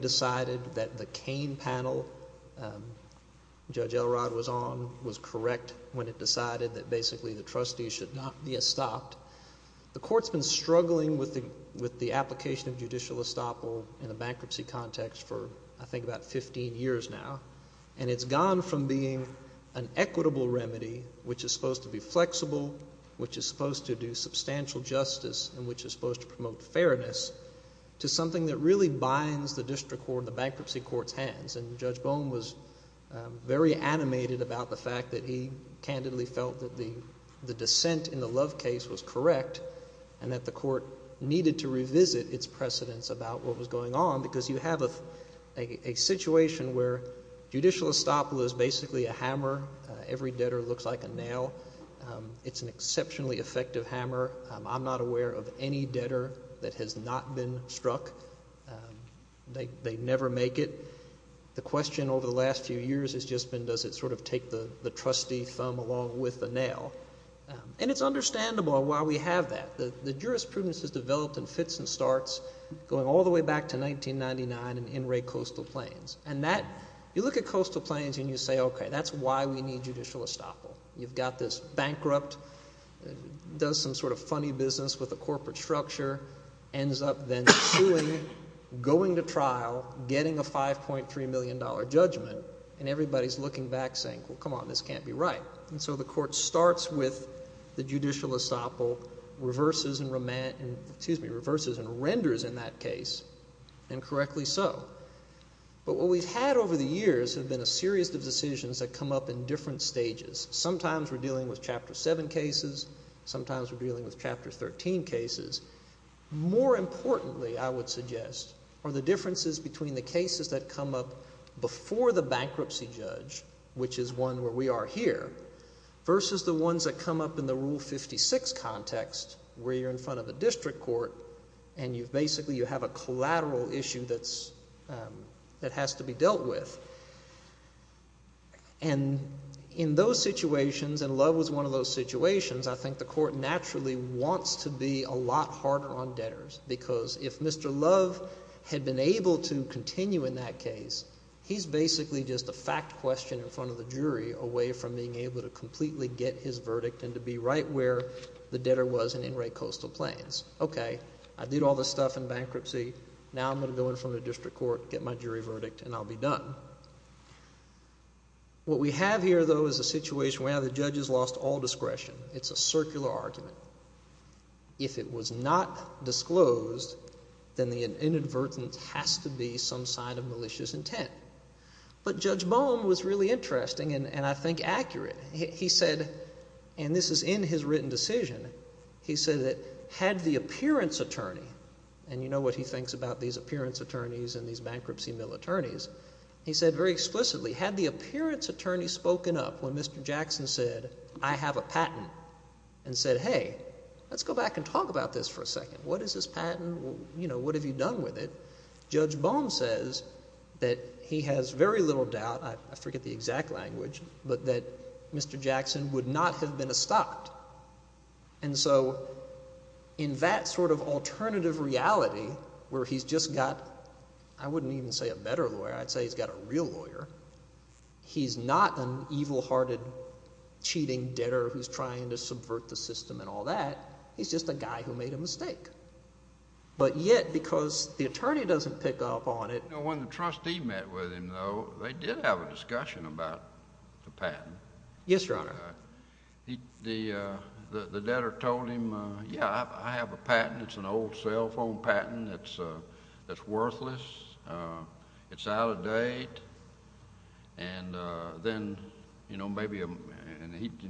decided that the Cain panel, Judge Elrod was on, was correct when it decided that basically the trustees should not be estopped. The court's been struggling with the application of judicial estoppel in a bankruptcy context for, I think, about 15 years now, and it's gone from being an equitable remedy, which is supposed to be flexible, which is supposed to do substantial justice, and which is supposed to promote fairness, to something that really binds the district court and the bankruptcy court's hands. And Judge Bohm was very animated about the fact that he candidly felt that the dissent in the Love case was correct, and that the court needed to revisit its precedents about what was going on, because you have a situation where judicial estoppel is basically a hammer. Every debtor looks like a nail. It's an example. I'm not aware of any debtor that has not been struck. They never make it. The question over the last few years has just been, does it sort of take the trustee thumb along with the nail? And it's understandable why we have that. The jurisprudence has developed in fits and starts going all the way back to 1999 and in Ray Coastal Plains. And that, you look at Coastal Plains and you say, okay, that's why we need judicial estoppel. You've got this bankrupt, does some sort of funny business with a corporate structure, ends up then suing, going to trial, getting a $5.3 million judgment, and everybody's looking back saying, well, come on, this can't be right. And so the court starts with the judicial estoppel, reverses and renders in that case, and correctly so. But what we've had over the years have been a series of decisions that come up in different stages. Sometimes we're dealing with Chapter 7 cases. Sometimes we're dealing with Chapter 13 cases. More importantly, I would suggest, are the differences between the cases that come up before the bankruptcy judge, which is one where we are here, versus the ones that come up in the Rule 56 context, where you're in front of a district court and you've basically, you have a collateral issue that has to be dealt with. And in those situations, and Love was one of those situations, I think the court naturally wants to be a lot harder on debtors, because if Mr. Love had been able to continue in that case, he's basically just a fact question in front of the jury, away from being able to completely get his verdict and to be right where the debtor was in Enright Coastal Plains. Okay, I did all this stuff in bankruptcy. Now I'm going to go in front of the district court, get my jury verdict, and I'll be done. What we have here, though, is a situation where the judges lost all discretion. It's a circular argument. If it was not disclosed, then the inadvertence has to be some sign of malicious intent. But Judge Bohm was really interesting, and I think accurate. He said, and this is in his written decision, he said, and you know what he thinks about these appearance attorneys and these bankruptcy mill attorneys. He said very explicitly, had the appearance attorney spoken up when Mr. Jackson said, I have a patent, and said, hey, let's go back and talk about this for a second. What is this patent? What have you done with it? Judge Bohm says that he has very little doubt, I forget the exact language, but that Mr. Jackson would not have been stopped. And so in that sort of alternative reality where he's just got, I wouldn't even say a better lawyer, I'd say he's got a real lawyer, he's not an evil-hearted, cheating debtor who's trying to subvert the system and all that. He's just a guy who made a mistake. But yet, because the attorney doesn't pick up on it When the trustee met with him, though, they did have a discussion about the patent. Yes, Your Honor. The debtor told him, yeah, I have a patent. It's an old cell phone patent that's worthless. It's out of date. And then, you know, maybe, and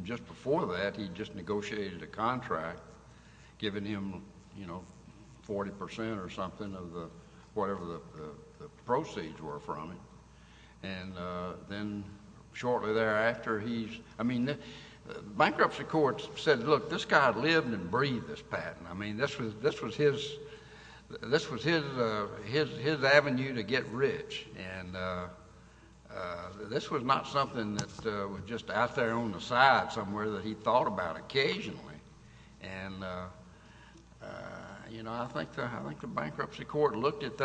just before that, he just negotiated a contract giving him, you know, 40 percent or something of whatever the proceeds were from it. And then shortly thereafter, he's, I mean, the bankruptcy court said, look, this guy lived and breathed this patent. I mean, this was his avenue to get rich. And this was not something that was just out there on the side somewhere that he thought about occasionally. And, you know, I think the bankruptcy court, at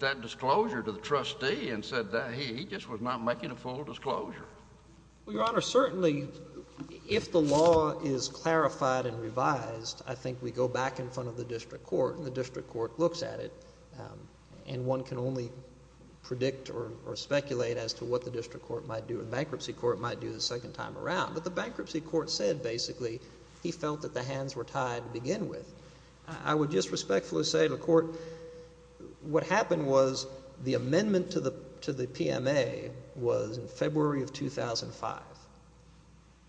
that disclosure to the trustee and said that, he just was not making a full disclosure. Well, Your Honor, certainly, if the law is clarified and revised, I think we go back in front of the district court and the district court looks at it. And one can only predict or speculate as to what the district court might do and the bankruptcy court might do the second time around. But the bankruptcy court said, basically, he felt that the hands were tied to begin with. I would just say, what happened was the amendment to the PMA was in February of 2005.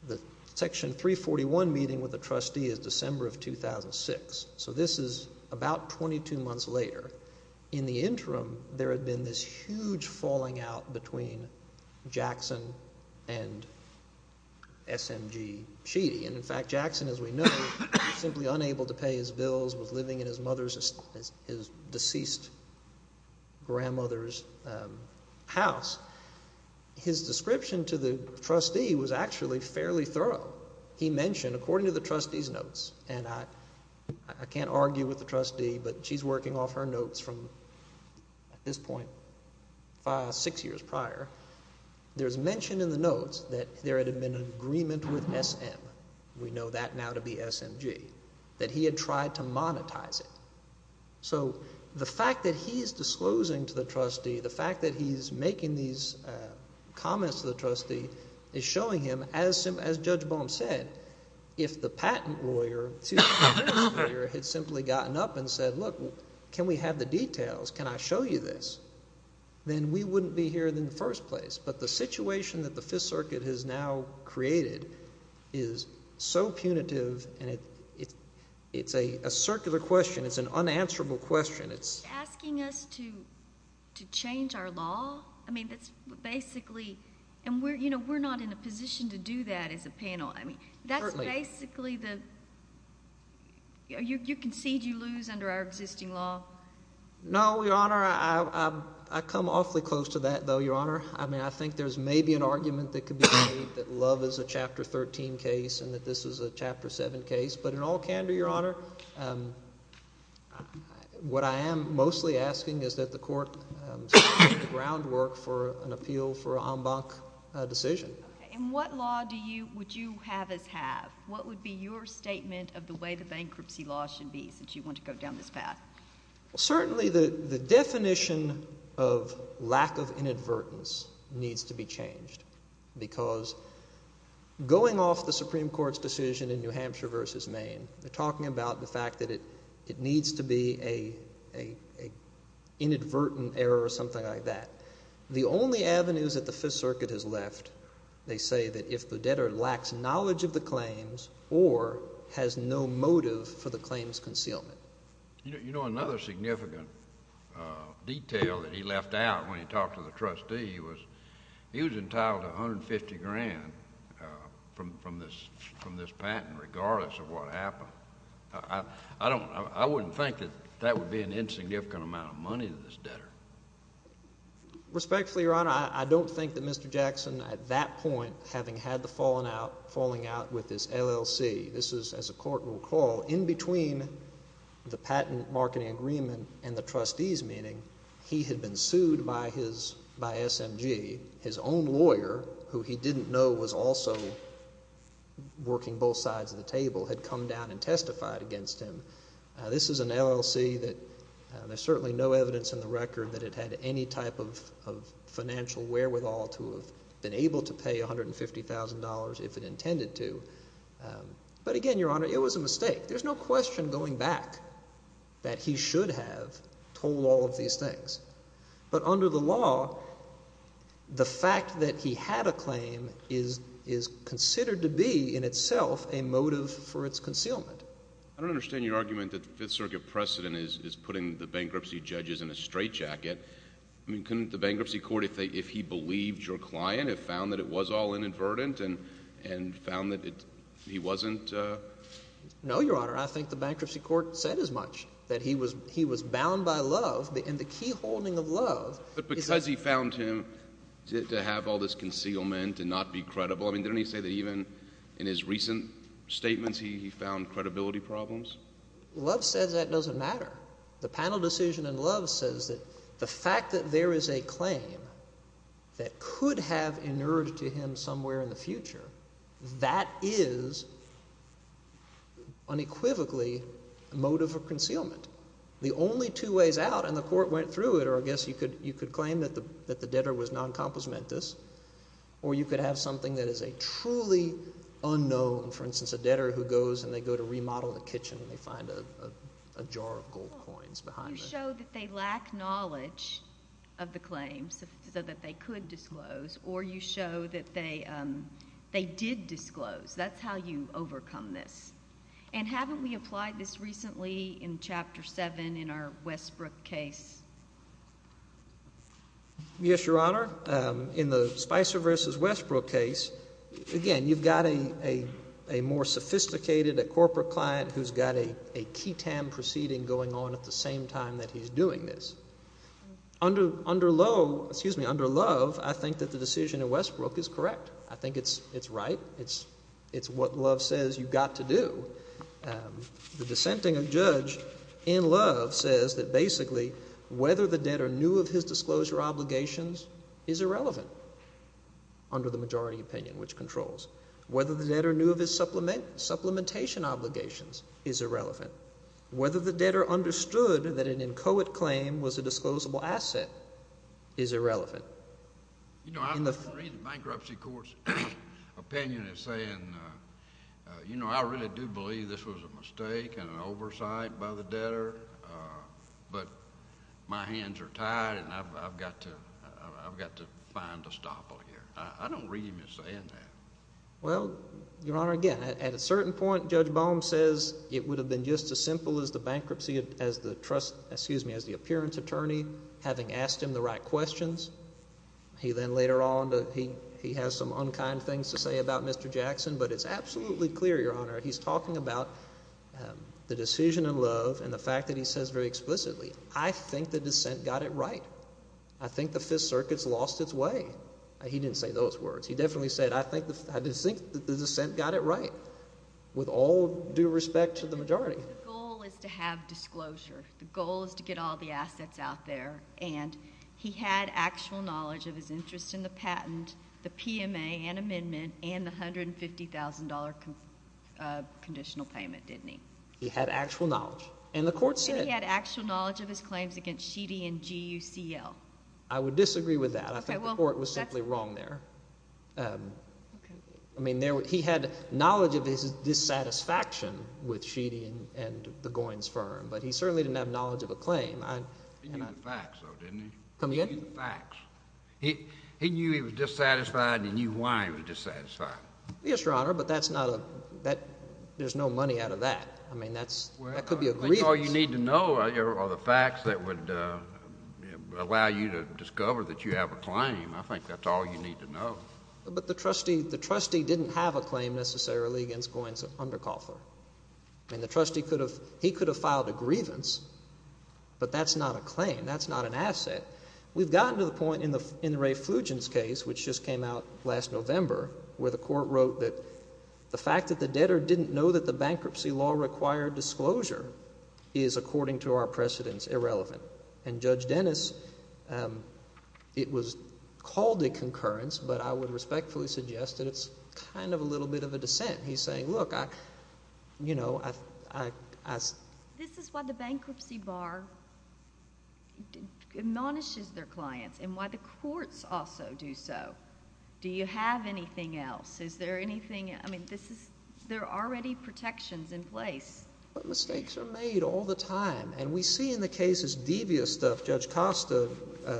The Section 341 meeting with the trustee is December of 2006. So this is about 22 months later. In the interim, there had been this huge falling out between Jackson and SMG Sheedy. And, in fact, Jackson, as we know, was simply unable to pay his deceased grandmother's house. His description to the trustee was actually fairly thorough. He mentioned, according to the trustee's notes, and I can't argue with the trustee, but she's working off her notes from this point, five, six years prior, there's mention in the notes that there had been an agreement with SM, we had tried to monetize it. So the fact that he's disclosing to the trustee, the fact that he's making these comments to the trustee is showing him, as Judge Boehm said, if the patent lawyer had simply gotten up and said, look, can we have the details? Can I show you this? Then we wouldn't be here in the first place. But the situation that the Fifth Circuit has now created is so punitive, and it's a circular question. It's an unanswerable question. You're asking us to change our law? I mean, that's basically, and we're not in a position to do that as a panel. I mean, that's basically the, you concede you lose under our existing law? No, Your Honor. I come awfully close to that, though, Your Honor. I mean, I think there's maybe an argument that could be made that Love is a Chapter 13 case and that this is a Chapter 7 case. But in all candor, Your Honor, what I am mostly asking is that the Court set the groundwork for an appeal for an en banc decision. Okay. And what law would you have us have? What would be your statement of the bankruptcy law should be since you want to go down this path? Well, certainly the definition of lack of inadvertence needs to be changed because going off the Supreme Court's decision in New Hampshire versus Maine, they're talking about the fact that it needs to be an inadvertent error or something like that. The only avenues that the Fifth Circuit has left, they say that if the claims concealment. You know, another significant detail that he left out when he talked to the trustee was he was entitled to $150,000 from this patent regardless of what happened. I wouldn't think that that would be an insignificant amount of money to this debtor. Respectfully, Your Honor, I don't think that Mr. Jackson at that point, having had the falling out with this LLC, this is, as the Court will recall, in between the patent marketing agreement and the trustees meeting, he had been sued by SMG. His own lawyer, who he didn't know was also working both sides of the table, had come down and testified against him. This is an LLC that there's certainly no evidence in the record that it had any type of financial wherewithal to have been able to pay $150,000 if it intended to. But again, Your Honor, it was a mistake. There's no question going back that he should have told all of these things. But under the law, the fact that he had a claim is considered to be in itself a motive for its concealment. I don't understand your argument that the Fifth Circuit precedent is putting the bankruptcy judges in a straitjacket. I mean, couldn't the bankruptcy court, if he believed your client, have found that it was all inadvertent and found that he wasn't? No, Your Honor. I think the bankruptcy court said as much, that he was bound by love. And the key holding of love is that— But because he found him to have all this concealment and not be credible, I mean, didn't he say that even in his recent statements he found credibility problems? Love says that doesn't matter. The panel decision in Love says that the fact that there is a claim that could have inured to him somewhere in the future, that is unequivocally a motive for concealment. The only two ways out, and the court went through it, or I guess you could claim that the debtor was noncomplismentous, or you could have something that is a truly unknown—for instance, a debtor who goes and they go to remodel the kitchen and they find a jar of gold coins behind it. You show that they lack knowledge of the claims so that they could disclose, or you show that they did disclose. That's how you overcome this. And haven't we applied this recently in Chapter 7 in our Westbrook case? Yes, Your Honor. In the Spicer v. Westbrook case, again, you've got a more sophisticated corporate client who's got a key time proceeding going on at the same time that he's doing this. Under Love, I think that the decision in Westbrook is correct. I think it's right. It's what Love says you've got to do. The dissenting judge in Love says that basically whether the debtor knew of his disclosure obligations is irrelevant under the majority opinion, which controls. Whether the debtor knew of his supplementation obligations is irrelevant. Whether the debtor understood that an inchoate claim was a disclosable asset is irrelevant. You know, I read the bankruptcy court's opinion as saying, you know, I really do believe this was a mistake and an oversight by the debtor, but my hands are tied and I've got to find a stopper here. I don't read them as saying that. Well, Your Honor, again, at a certain point Judge Bohm says it would have been just as simple as the bankruptcy as the trust, excuse me, as the appearance attorney having asked him the right questions. He then later on, he has some unkind things to say about Mr. Jackson, but it's absolutely clear, Your Honor, he's talking about the decision in Love and the fact that he says very explicitly, I think the dissent got it right. I think the Fifth Circuit's lost its way. He didn't say those words. He definitely said, I think the dissent got it right, with all due respect to the majority. The goal is to have disclosure. The goal is to get all the assets out there, and he had actual knowledge of his interest in the patent, the PMA and amendment, and the $150,000 conditional payment, didn't he? He had actual knowledge, and the court said And he had actual knowledge of his claims against Sheedy and G.U.C.L. I would disagree with that. I think the court was simply wrong there. I mean, he had knowledge of his dissatisfaction with Sheedy and the Goins firm, but he certainly didn't have knowledge of a claim. He knew the facts, though, didn't he? Come again? He knew the facts. He knew he was dissatisfied, and he knew why he was dissatisfied. Yes, Your Honor, but there's no money out of that. I mean, that could be a grievance. I think that's all you need to know are the facts that would allow you to discover that you have a claim. I think that's all you need to know. But the trustee didn't have a claim necessarily against Goins under Coughler. I mean, the trustee could have he could have filed a grievance, but that's not a claim. That's not an asset. We've gotten to the point in the Ray Fugent's case, which just came out last November, where the court wrote that the fact that the debtor didn't know that the is, according to our precedents, irrelevant. And Judge Dennis, it was called a concurrence, but I would respectfully suggest that it's kind of a little bit of a dissent. He's saying, look, I, you know, I This is why the bankruptcy bar admonishes their clients and why the courts also do so. Do you have anything else? Is there anything? I mean, there are already protections in place. But mistakes are made all the time. And we see in the cases devious stuff. Judge Costa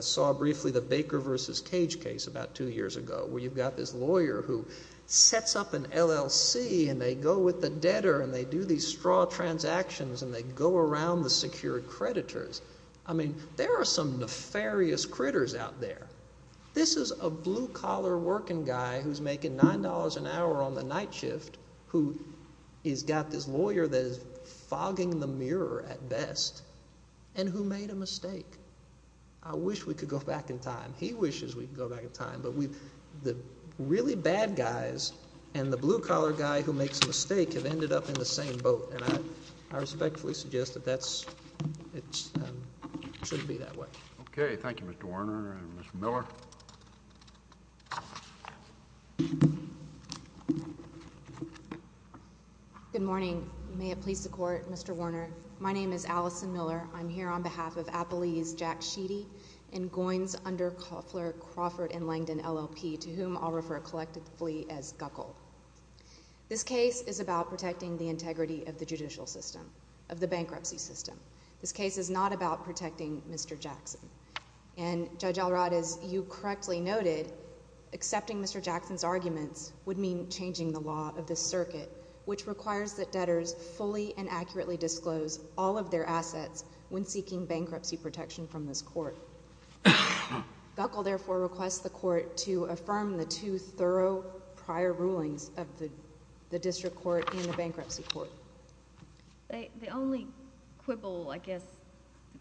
saw briefly the Baker versus Cage case about two years ago, where you've got this lawyer who sets up an LLC and they go with the debtor and they do these straw transactions and they go around the secured creditors. I mean, there are some nefarious critters out there. This is a blue collar working guy who's making nine dollars an hour on the fogging the mirror at best and who made a mistake. I wish we could go back in time. He wishes we could go back in time. But we've the really bad guys and the blue collar guy who makes a mistake have ended up in the same boat. And I respectfully suggest that that's it should be that way. Thank you. Good morning. May it please the court. Mr. Warner. My name is Allison Miller. I'm here on behalf of Apple's Jack Sheedy and goings under Koffler Crawford and Langdon LLP to whom I'll refer collectively as Guckle. This case is about protecting the integrity of the judicial system of the bankruptcy system. This case is not about protecting Mr. Jackson. And Judge Alrod, as you correctly noted, accepting Mr. Jackson's arguments would mean changing the law of the circuit, which requires that debtors fully and accurately disclose all of their assets when seeking bankruptcy protection from this court. Guckle therefore requests the court to affirm the two thorough prior rulings of the district court and the bankruptcy court. The only quibble I guess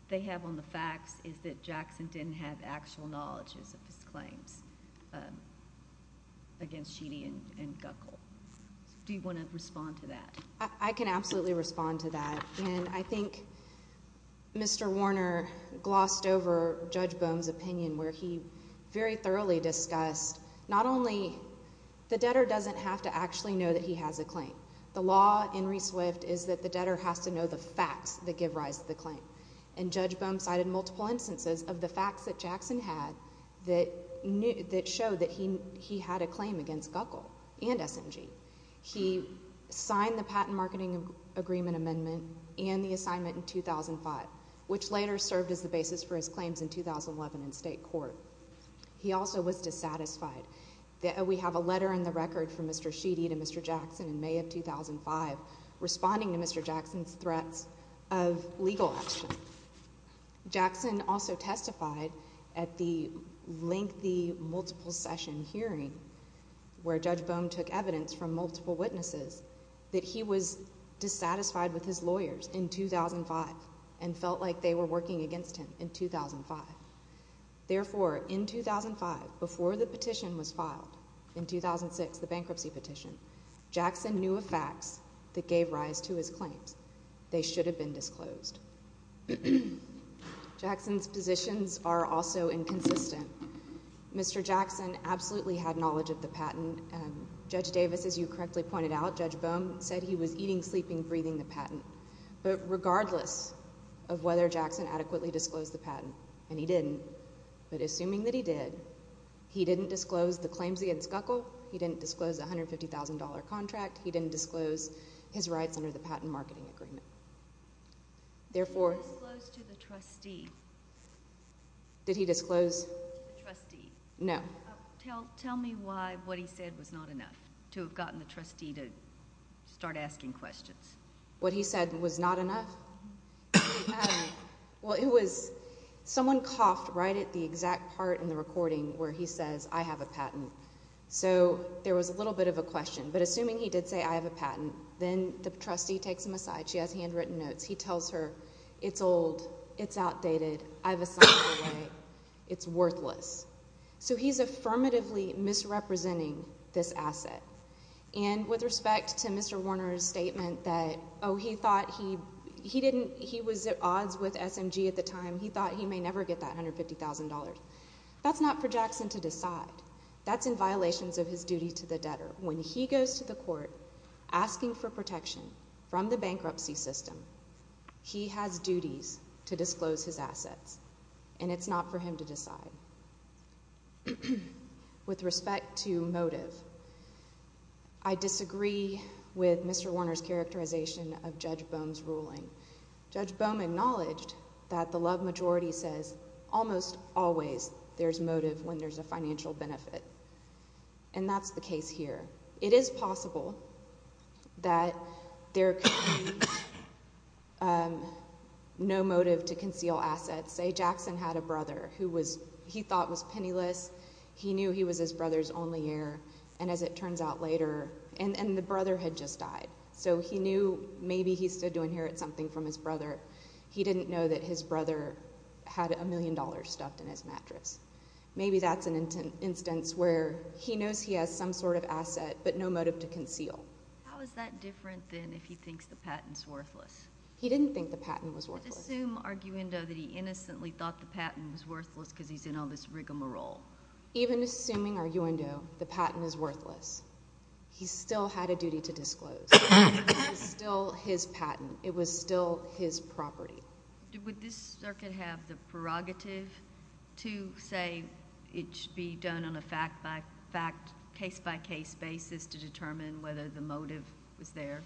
they have on the facts is that Jackson didn't have actual knowledge of his claims against Sheedy and Guckle. Do you want to respond to that? I can absolutely respond to that. And I think Mr. Warner glossed over Judge Bohm's opinion where he very thoroughly discussed not only the debtor doesn't have to actually know that he has a claim. The law in ReSwift is that the debtor has to know the facts that give rise to the claim. And Judge Bohm cited multiple instances of the facts that Jackson had that showed that he had a claim against Guckle and SMG. He signed the patent marketing agreement amendment and the assignment in 2005, which later served as the basis for his claims in 2011 in state court. He also was dissatisfied that we have a letter in the record from Mr. Jackson in May of 2005 responding to Mr. Jackson's threats of legal action. Jackson also testified at the lengthy multiple session hearing where Judge Bohm took evidence from multiple witnesses that he was dissatisfied with his lawyers in 2005 and felt like they were working against him in 2005. Therefore, in 2005, before the petition was filed, in 2006, the bankruptcy petition, Jackson knew of facts that gave rise to his claims. They should have been disclosed. Jackson's positions are also inconsistent. Mr. Jackson absolutely had knowledge of the patent. Judge Davis, as you correctly pointed out, Judge Bohm said he was eating, sleeping, breathing the patent. But regardless of whether Jackson adequately disclosed the patent, and he didn't, but assuming that he did, he didn't disclose the claims against Guckle, he didn't disclose the $150,000 contract, he didn't disclose his rights under the patent marketing agreement. Therefore... He disclosed to the trustee. Did he disclose... To the trustee. No. Tell me why what he said was not enough to have gotten the trustee to start asking questions. What he said was not enough? Well, it was... Someone coughed right at the exact part in the recording where he says, I have a patent. So there was a little bit of a question. But assuming he did say, I have a patent, then the trustee takes him aside. She has handwritten notes. He tells her, It's old. It's outdated. I've assigned it away. It's worthless. So he's affirmatively misrepresenting this asset. And with respect to Mr. Warner's statement that, oh, he thought he didn't... He was at odds with SMG at the time. He thought he may never get that $150,000. That's not for Jackson to decide. That's in violations of his duty to the debtor. When he goes to the court asking for protection from the bankruptcy system, he has duties to disclose his assets. And it's not for him to decide. With respect to motive, I disagree with Mr. Warner's characterization of Judge Bohm's ruling. Judge Bohm acknowledged that the love majority says, almost always there's motive when there's a financial benefit. And that's the case here. It is possible that there could be no motive to conceal assets. Say Jackson had a brother who he thought was penniless. He knew he was his brother's only heir. And as it turns out later, and the brother had just died. So he knew maybe he stood to inherit something from his brother. He didn't know that his brother had a million dollars stuffed in his mattress. Maybe that's an instance where he knows he has some sort of asset, but no motive to conceal. How is that different than if he thinks the patent's worthless? He didn't think the patent was worthless. How does it assume, arguendo, that he innocently thought the patent was worthless because he's in all this rigamarole? Even assuming, arguendo, the patent is worthless, he still had a duty to disclose. It was still his patent. It was still his property. Would this circuit have the prerogative to say it should be done on a fact-by-fact, case-by-case basis to determine whether the motive was there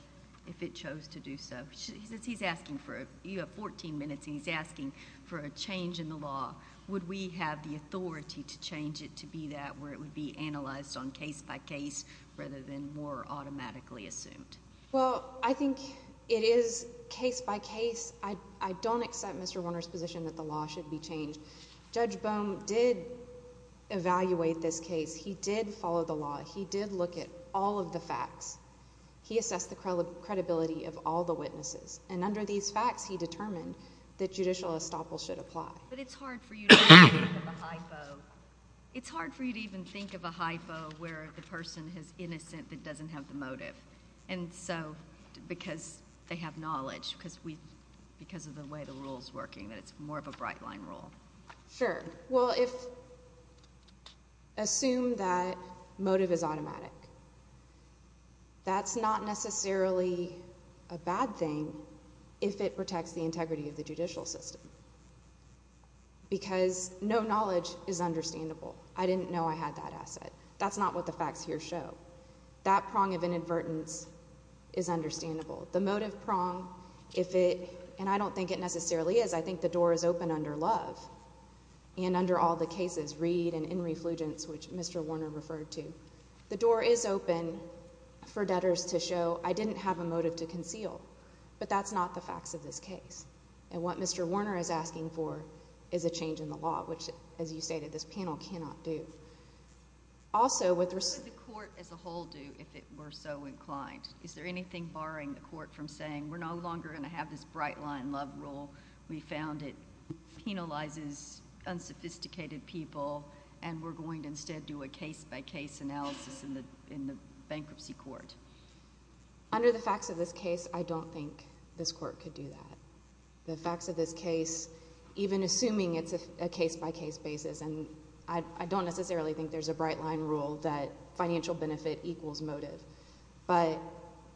if it chose to do so? You have 14 minutes, and he's asking for a change in the law. Would we have the authority to change it to be that where it would be analyzed on case-by-case rather than more automatically assumed? Well, I think it is case-by-case. I don't accept Mr. Warner's position that the law should be changed. Judge Bohm did evaluate this case. He did follow the law. He did look at all of the facts. He assessed the credibility of all the witnesses, and under these facts he determined that judicial estoppel should apply. But it's hard for you to even think of a hypo where the person is innocent that doesn't have the motive because they have knowledge because of the way the rule is working, that it's more of a bright-line rule. Sure. Well, assume that motive is automatic. That's not necessarily a bad thing if it protects the integrity of the judicial system because no knowledge is understandable. I didn't know I had that asset. That's not what the facts here show. That prong of inadvertence is understandable. The motive prong, if it, and I don't think it necessarily is. I think the door is open under Love and under all the cases, Reed and In Reflugence, which Mr. Warner referred to. The door is open for debtors to show I didn't have a motive to conceal, but that's not the facts of this case. And what Mr. Warner is asking for is a change in the law, which, as you stated, this panel cannot do. What would the court as a whole do if it were so inclined? Is there anything barring the court from saying we're no longer going to have this bright-line Love rule, we found it penalizes unsophisticated people, and we're going to instead do a case-by-case analysis in the bankruptcy court? Under the facts of this case, I don't think this court could do that. The facts of this case, even assuming it's a case-by-case basis, and I don't necessarily think there's a bright-line rule that financial benefit equals motive, but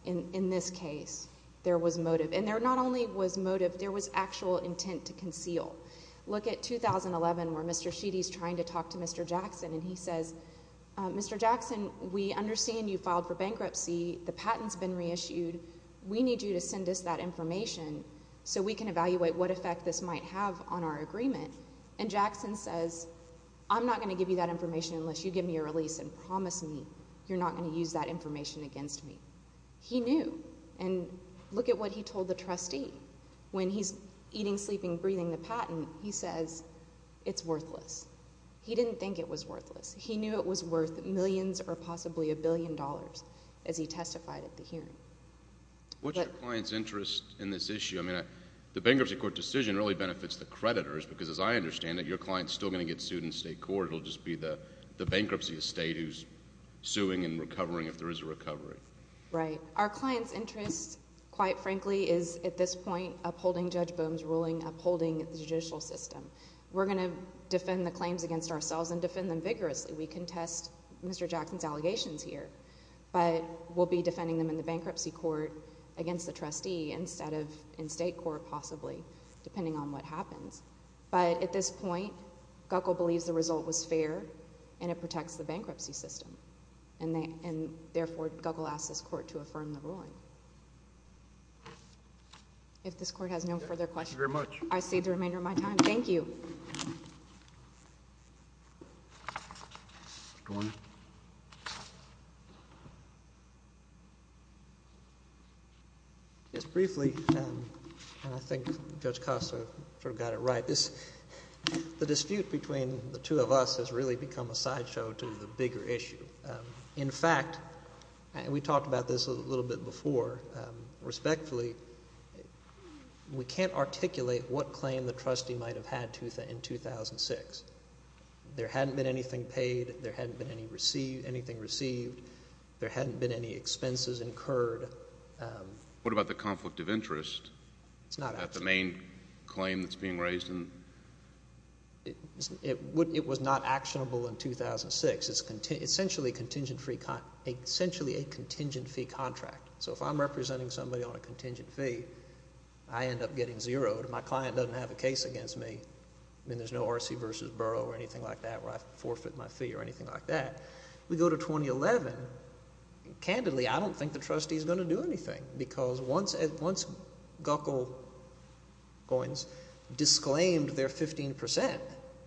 in this case there was motive. And there not only was motive, there was actual intent to conceal. Look at 2011 where Mr. Sheedy is trying to talk to Mr. Jackson, and he says, Mr. Jackson, we understand you filed for bankruptcy. The patent's been reissued. We need you to send us that information so we can evaluate what effect this might have on our agreement. And Jackson says, I'm not going to give you that information unless you give me a release and promise me you're not going to use that information against me. He knew, and look at what he told the trustee. When he's eating, sleeping, breathing the patent, he says, it's worthless. He didn't think it was worthless. He knew it was worth millions or possibly a billion dollars as he testified at the hearing. What's your client's interest in this issue? I mean, the bankruptcy court decision really benefits the creditors because, as I understand it, your client's still going to get sued in state court. It will just be the bankruptcy estate who's suing and recovering if there is a recovery. Right. Our client's interest, quite frankly, is at this point upholding Judge Boone's ruling, upholding the judicial system. We're going to defend the claims against ourselves and defend them vigorously. We contest Mr. Jackson's allegations here. But we'll be defending them in the bankruptcy court against the trustee instead of in state court, possibly, depending on what happens. But at this point, Guckel believes the result was fair and it protects the bankruptcy system. And, therefore, Guckel asks this court to affirm the ruling. If this court has no further questions. Thank you very much. I cede the remainder of my time. Thank you. Mr. Boone. Yes, briefly, and I think Judge Costa sort of got it right, the dispute between the two of us has really become a sideshow to the bigger issue. In fact, and we talked about this a little bit before, respectfully, we can't articulate what claim the trustee might have had in 2006. There hadn't been anything paid. There hadn't been anything received. There hadn't been any expenses incurred. What about the conflict of interest? It's not actionable. Is that the main claim that's being raised? It was not actionable in 2006. It's essentially a contingent fee contract. So, if I'm representing somebody on a contingent fee, I end up getting zeroed. My client doesn't have a case against me. I mean, there's no RC versus Burrough or anything like that where I forfeit my fee or anything like that. We go to 2011. Candidly, I don't think the trustee is going to do anything because once Guckel coins disclaimed their 15%,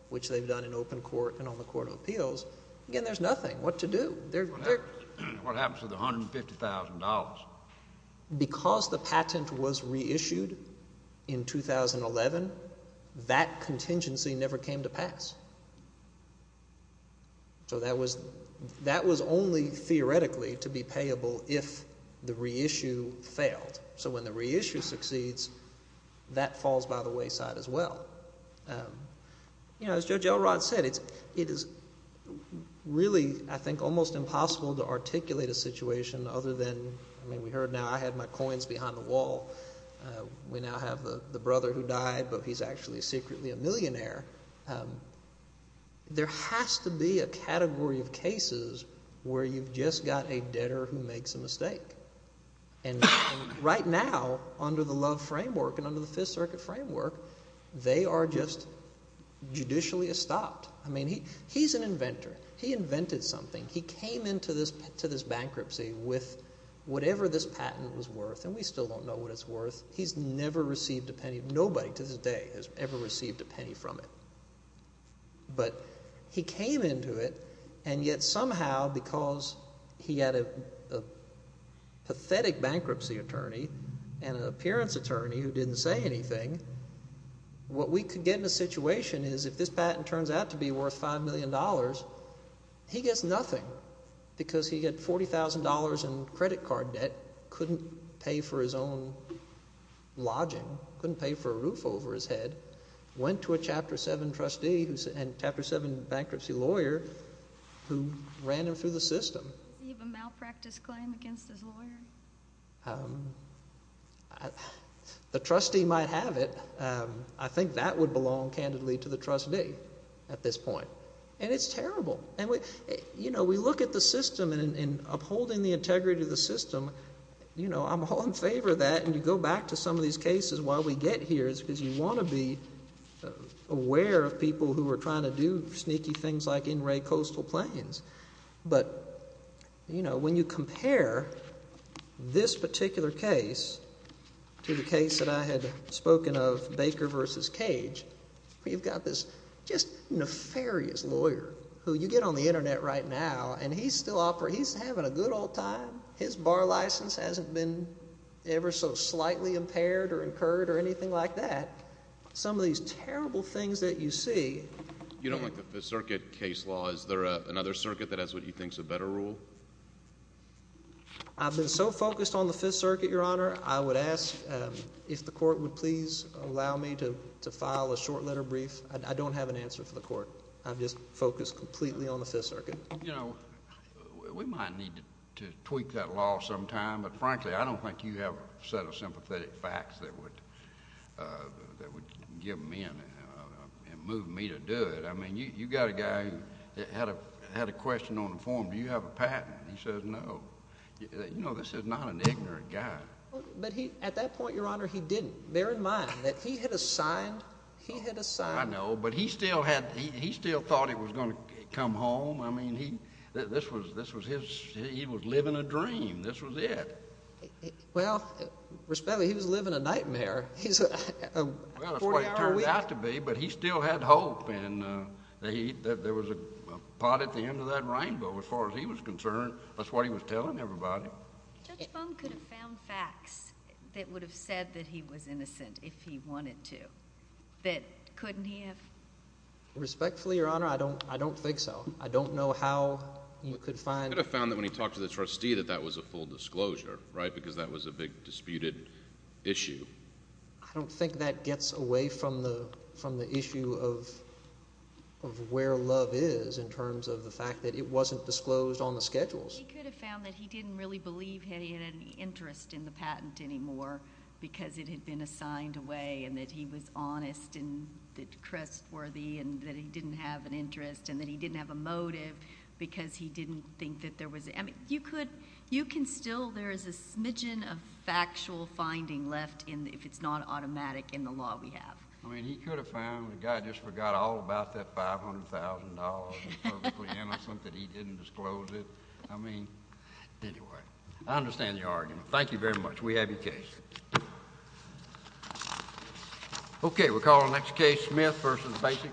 which they've done in open court and on the Court of Appeals, again, there's nothing. What to do? What happens to the $150,000? Because the patent was reissued in 2011, that contingency never came to pass. So that was only theoretically to be payable if the reissue failed. So when the reissue succeeds, that falls by the wayside as well. As Judge Elrod said, it is really, I think, almost impossible to articulate a situation other than, I mean, we heard now, I had my coins behind the wall. We now have the brother who died, but he's actually secretly a millionaire. There has to be a category of cases where you've just got a debtor who makes a mistake. And right now, under the Love framework and under the Fifth Circuit framework, they are just judicially estopped. I mean he's an inventor. He invented something. He came into this bankruptcy with whatever this patent was worth, and we still don't know what it's worth. He's never received a penny. Nobody to this day has ever received a penny from it. But he came into it, and yet somehow because he had a pathetic bankruptcy attorney and an appearance attorney who didn't say anything, what we could get in a situation is if this patent turns out to be worth $5 million, he gets nothing because he had $40,000 in credit card debt, couldn't pay for his own lodging, couldn't pay for a roof over his head, went to a Chapter 7 trustee and Chapter 7 bankruptcy lawyer who ran him through the system. Does he have a malpractice claim against his lawyer? The trustee might have it. I think that would belong candidly to the trustee at this point, and it's terrible. You know, we look at the system and upholding the integrity of the system, you know, I'm all in favor of that, and you go back to some of these cases while we get here because you want to be aware of people who are trying to do sneaky things like in-ray coastal planes. But, you know, when you compare this particular case to the case that I had spoken of, Baker v. Cage, you've got this just nefarious lawyer who you get on the Internet right now, and he's still operating. He's having a good old time. His bar license hasn't been ever so slightly impaired or incurred or anything like that. Some of these terrible things that you see. You don't like the Fifth Circuit case law. Is there another circuit that has what you think is a better rule? I've been so focused on the Fifth Circuit, Your Honor, I would ask if the court would please allow me to file a short letter brief. I don't have an answer for the court. I'm just focused completely on the Fifth Circuit. You know, we might need to tweak that law sometime, but, frankly, I don't think you have a set of sympathetic facts that would get me in and move me to do it. I mean, you've got a guy who had a question on the form. Do you have a patent? He said no. You know, this is not an ignorant guy. But he—at that point, Your Honor, he didn't. Bear in mind that he had assigned—he had assigned— I know, but he still had—he still thought it was going to come home. I mean, he—this was his—he was living a dream. This was it. Well, respectfully, he was living a nightmare. Well, that's what it turned out to be, but he still had hope. And there was a pot at the end of that rainbow, as far as he was concerned. That's what he was telling everybody. Judge Bone could have found facts that would have said that he was innocent if he wanted to, that couldn't he have? Respectfully, Your Honor, I don't think so. I don't know how you could find— He could have found that when he talked to the trustee that that was a full disclosure, right, because that was a big disputed issue. I don't think that gets away from the issue of where love is in terms of the fact that it wasn't disclosed on the schedules. He could have found that he didn't really believe he had any interest in the patent anymore because it had been assigned away and that he was honest and trustworthy and that he didn't have an interest and that he didn't have a motive because he didn't think that there was— I mean, you could—you can still—there is a smidgen of factual finding left if it's not automatic in the law we have. I mean, he could have found the guy just forgot all about that $500,000 and publicly innocent that he didn't disclose it. I mean, anyway, I understand your argument. Thank you very much. We have your case. Okay, we'll call the next case, Smith v. Basic.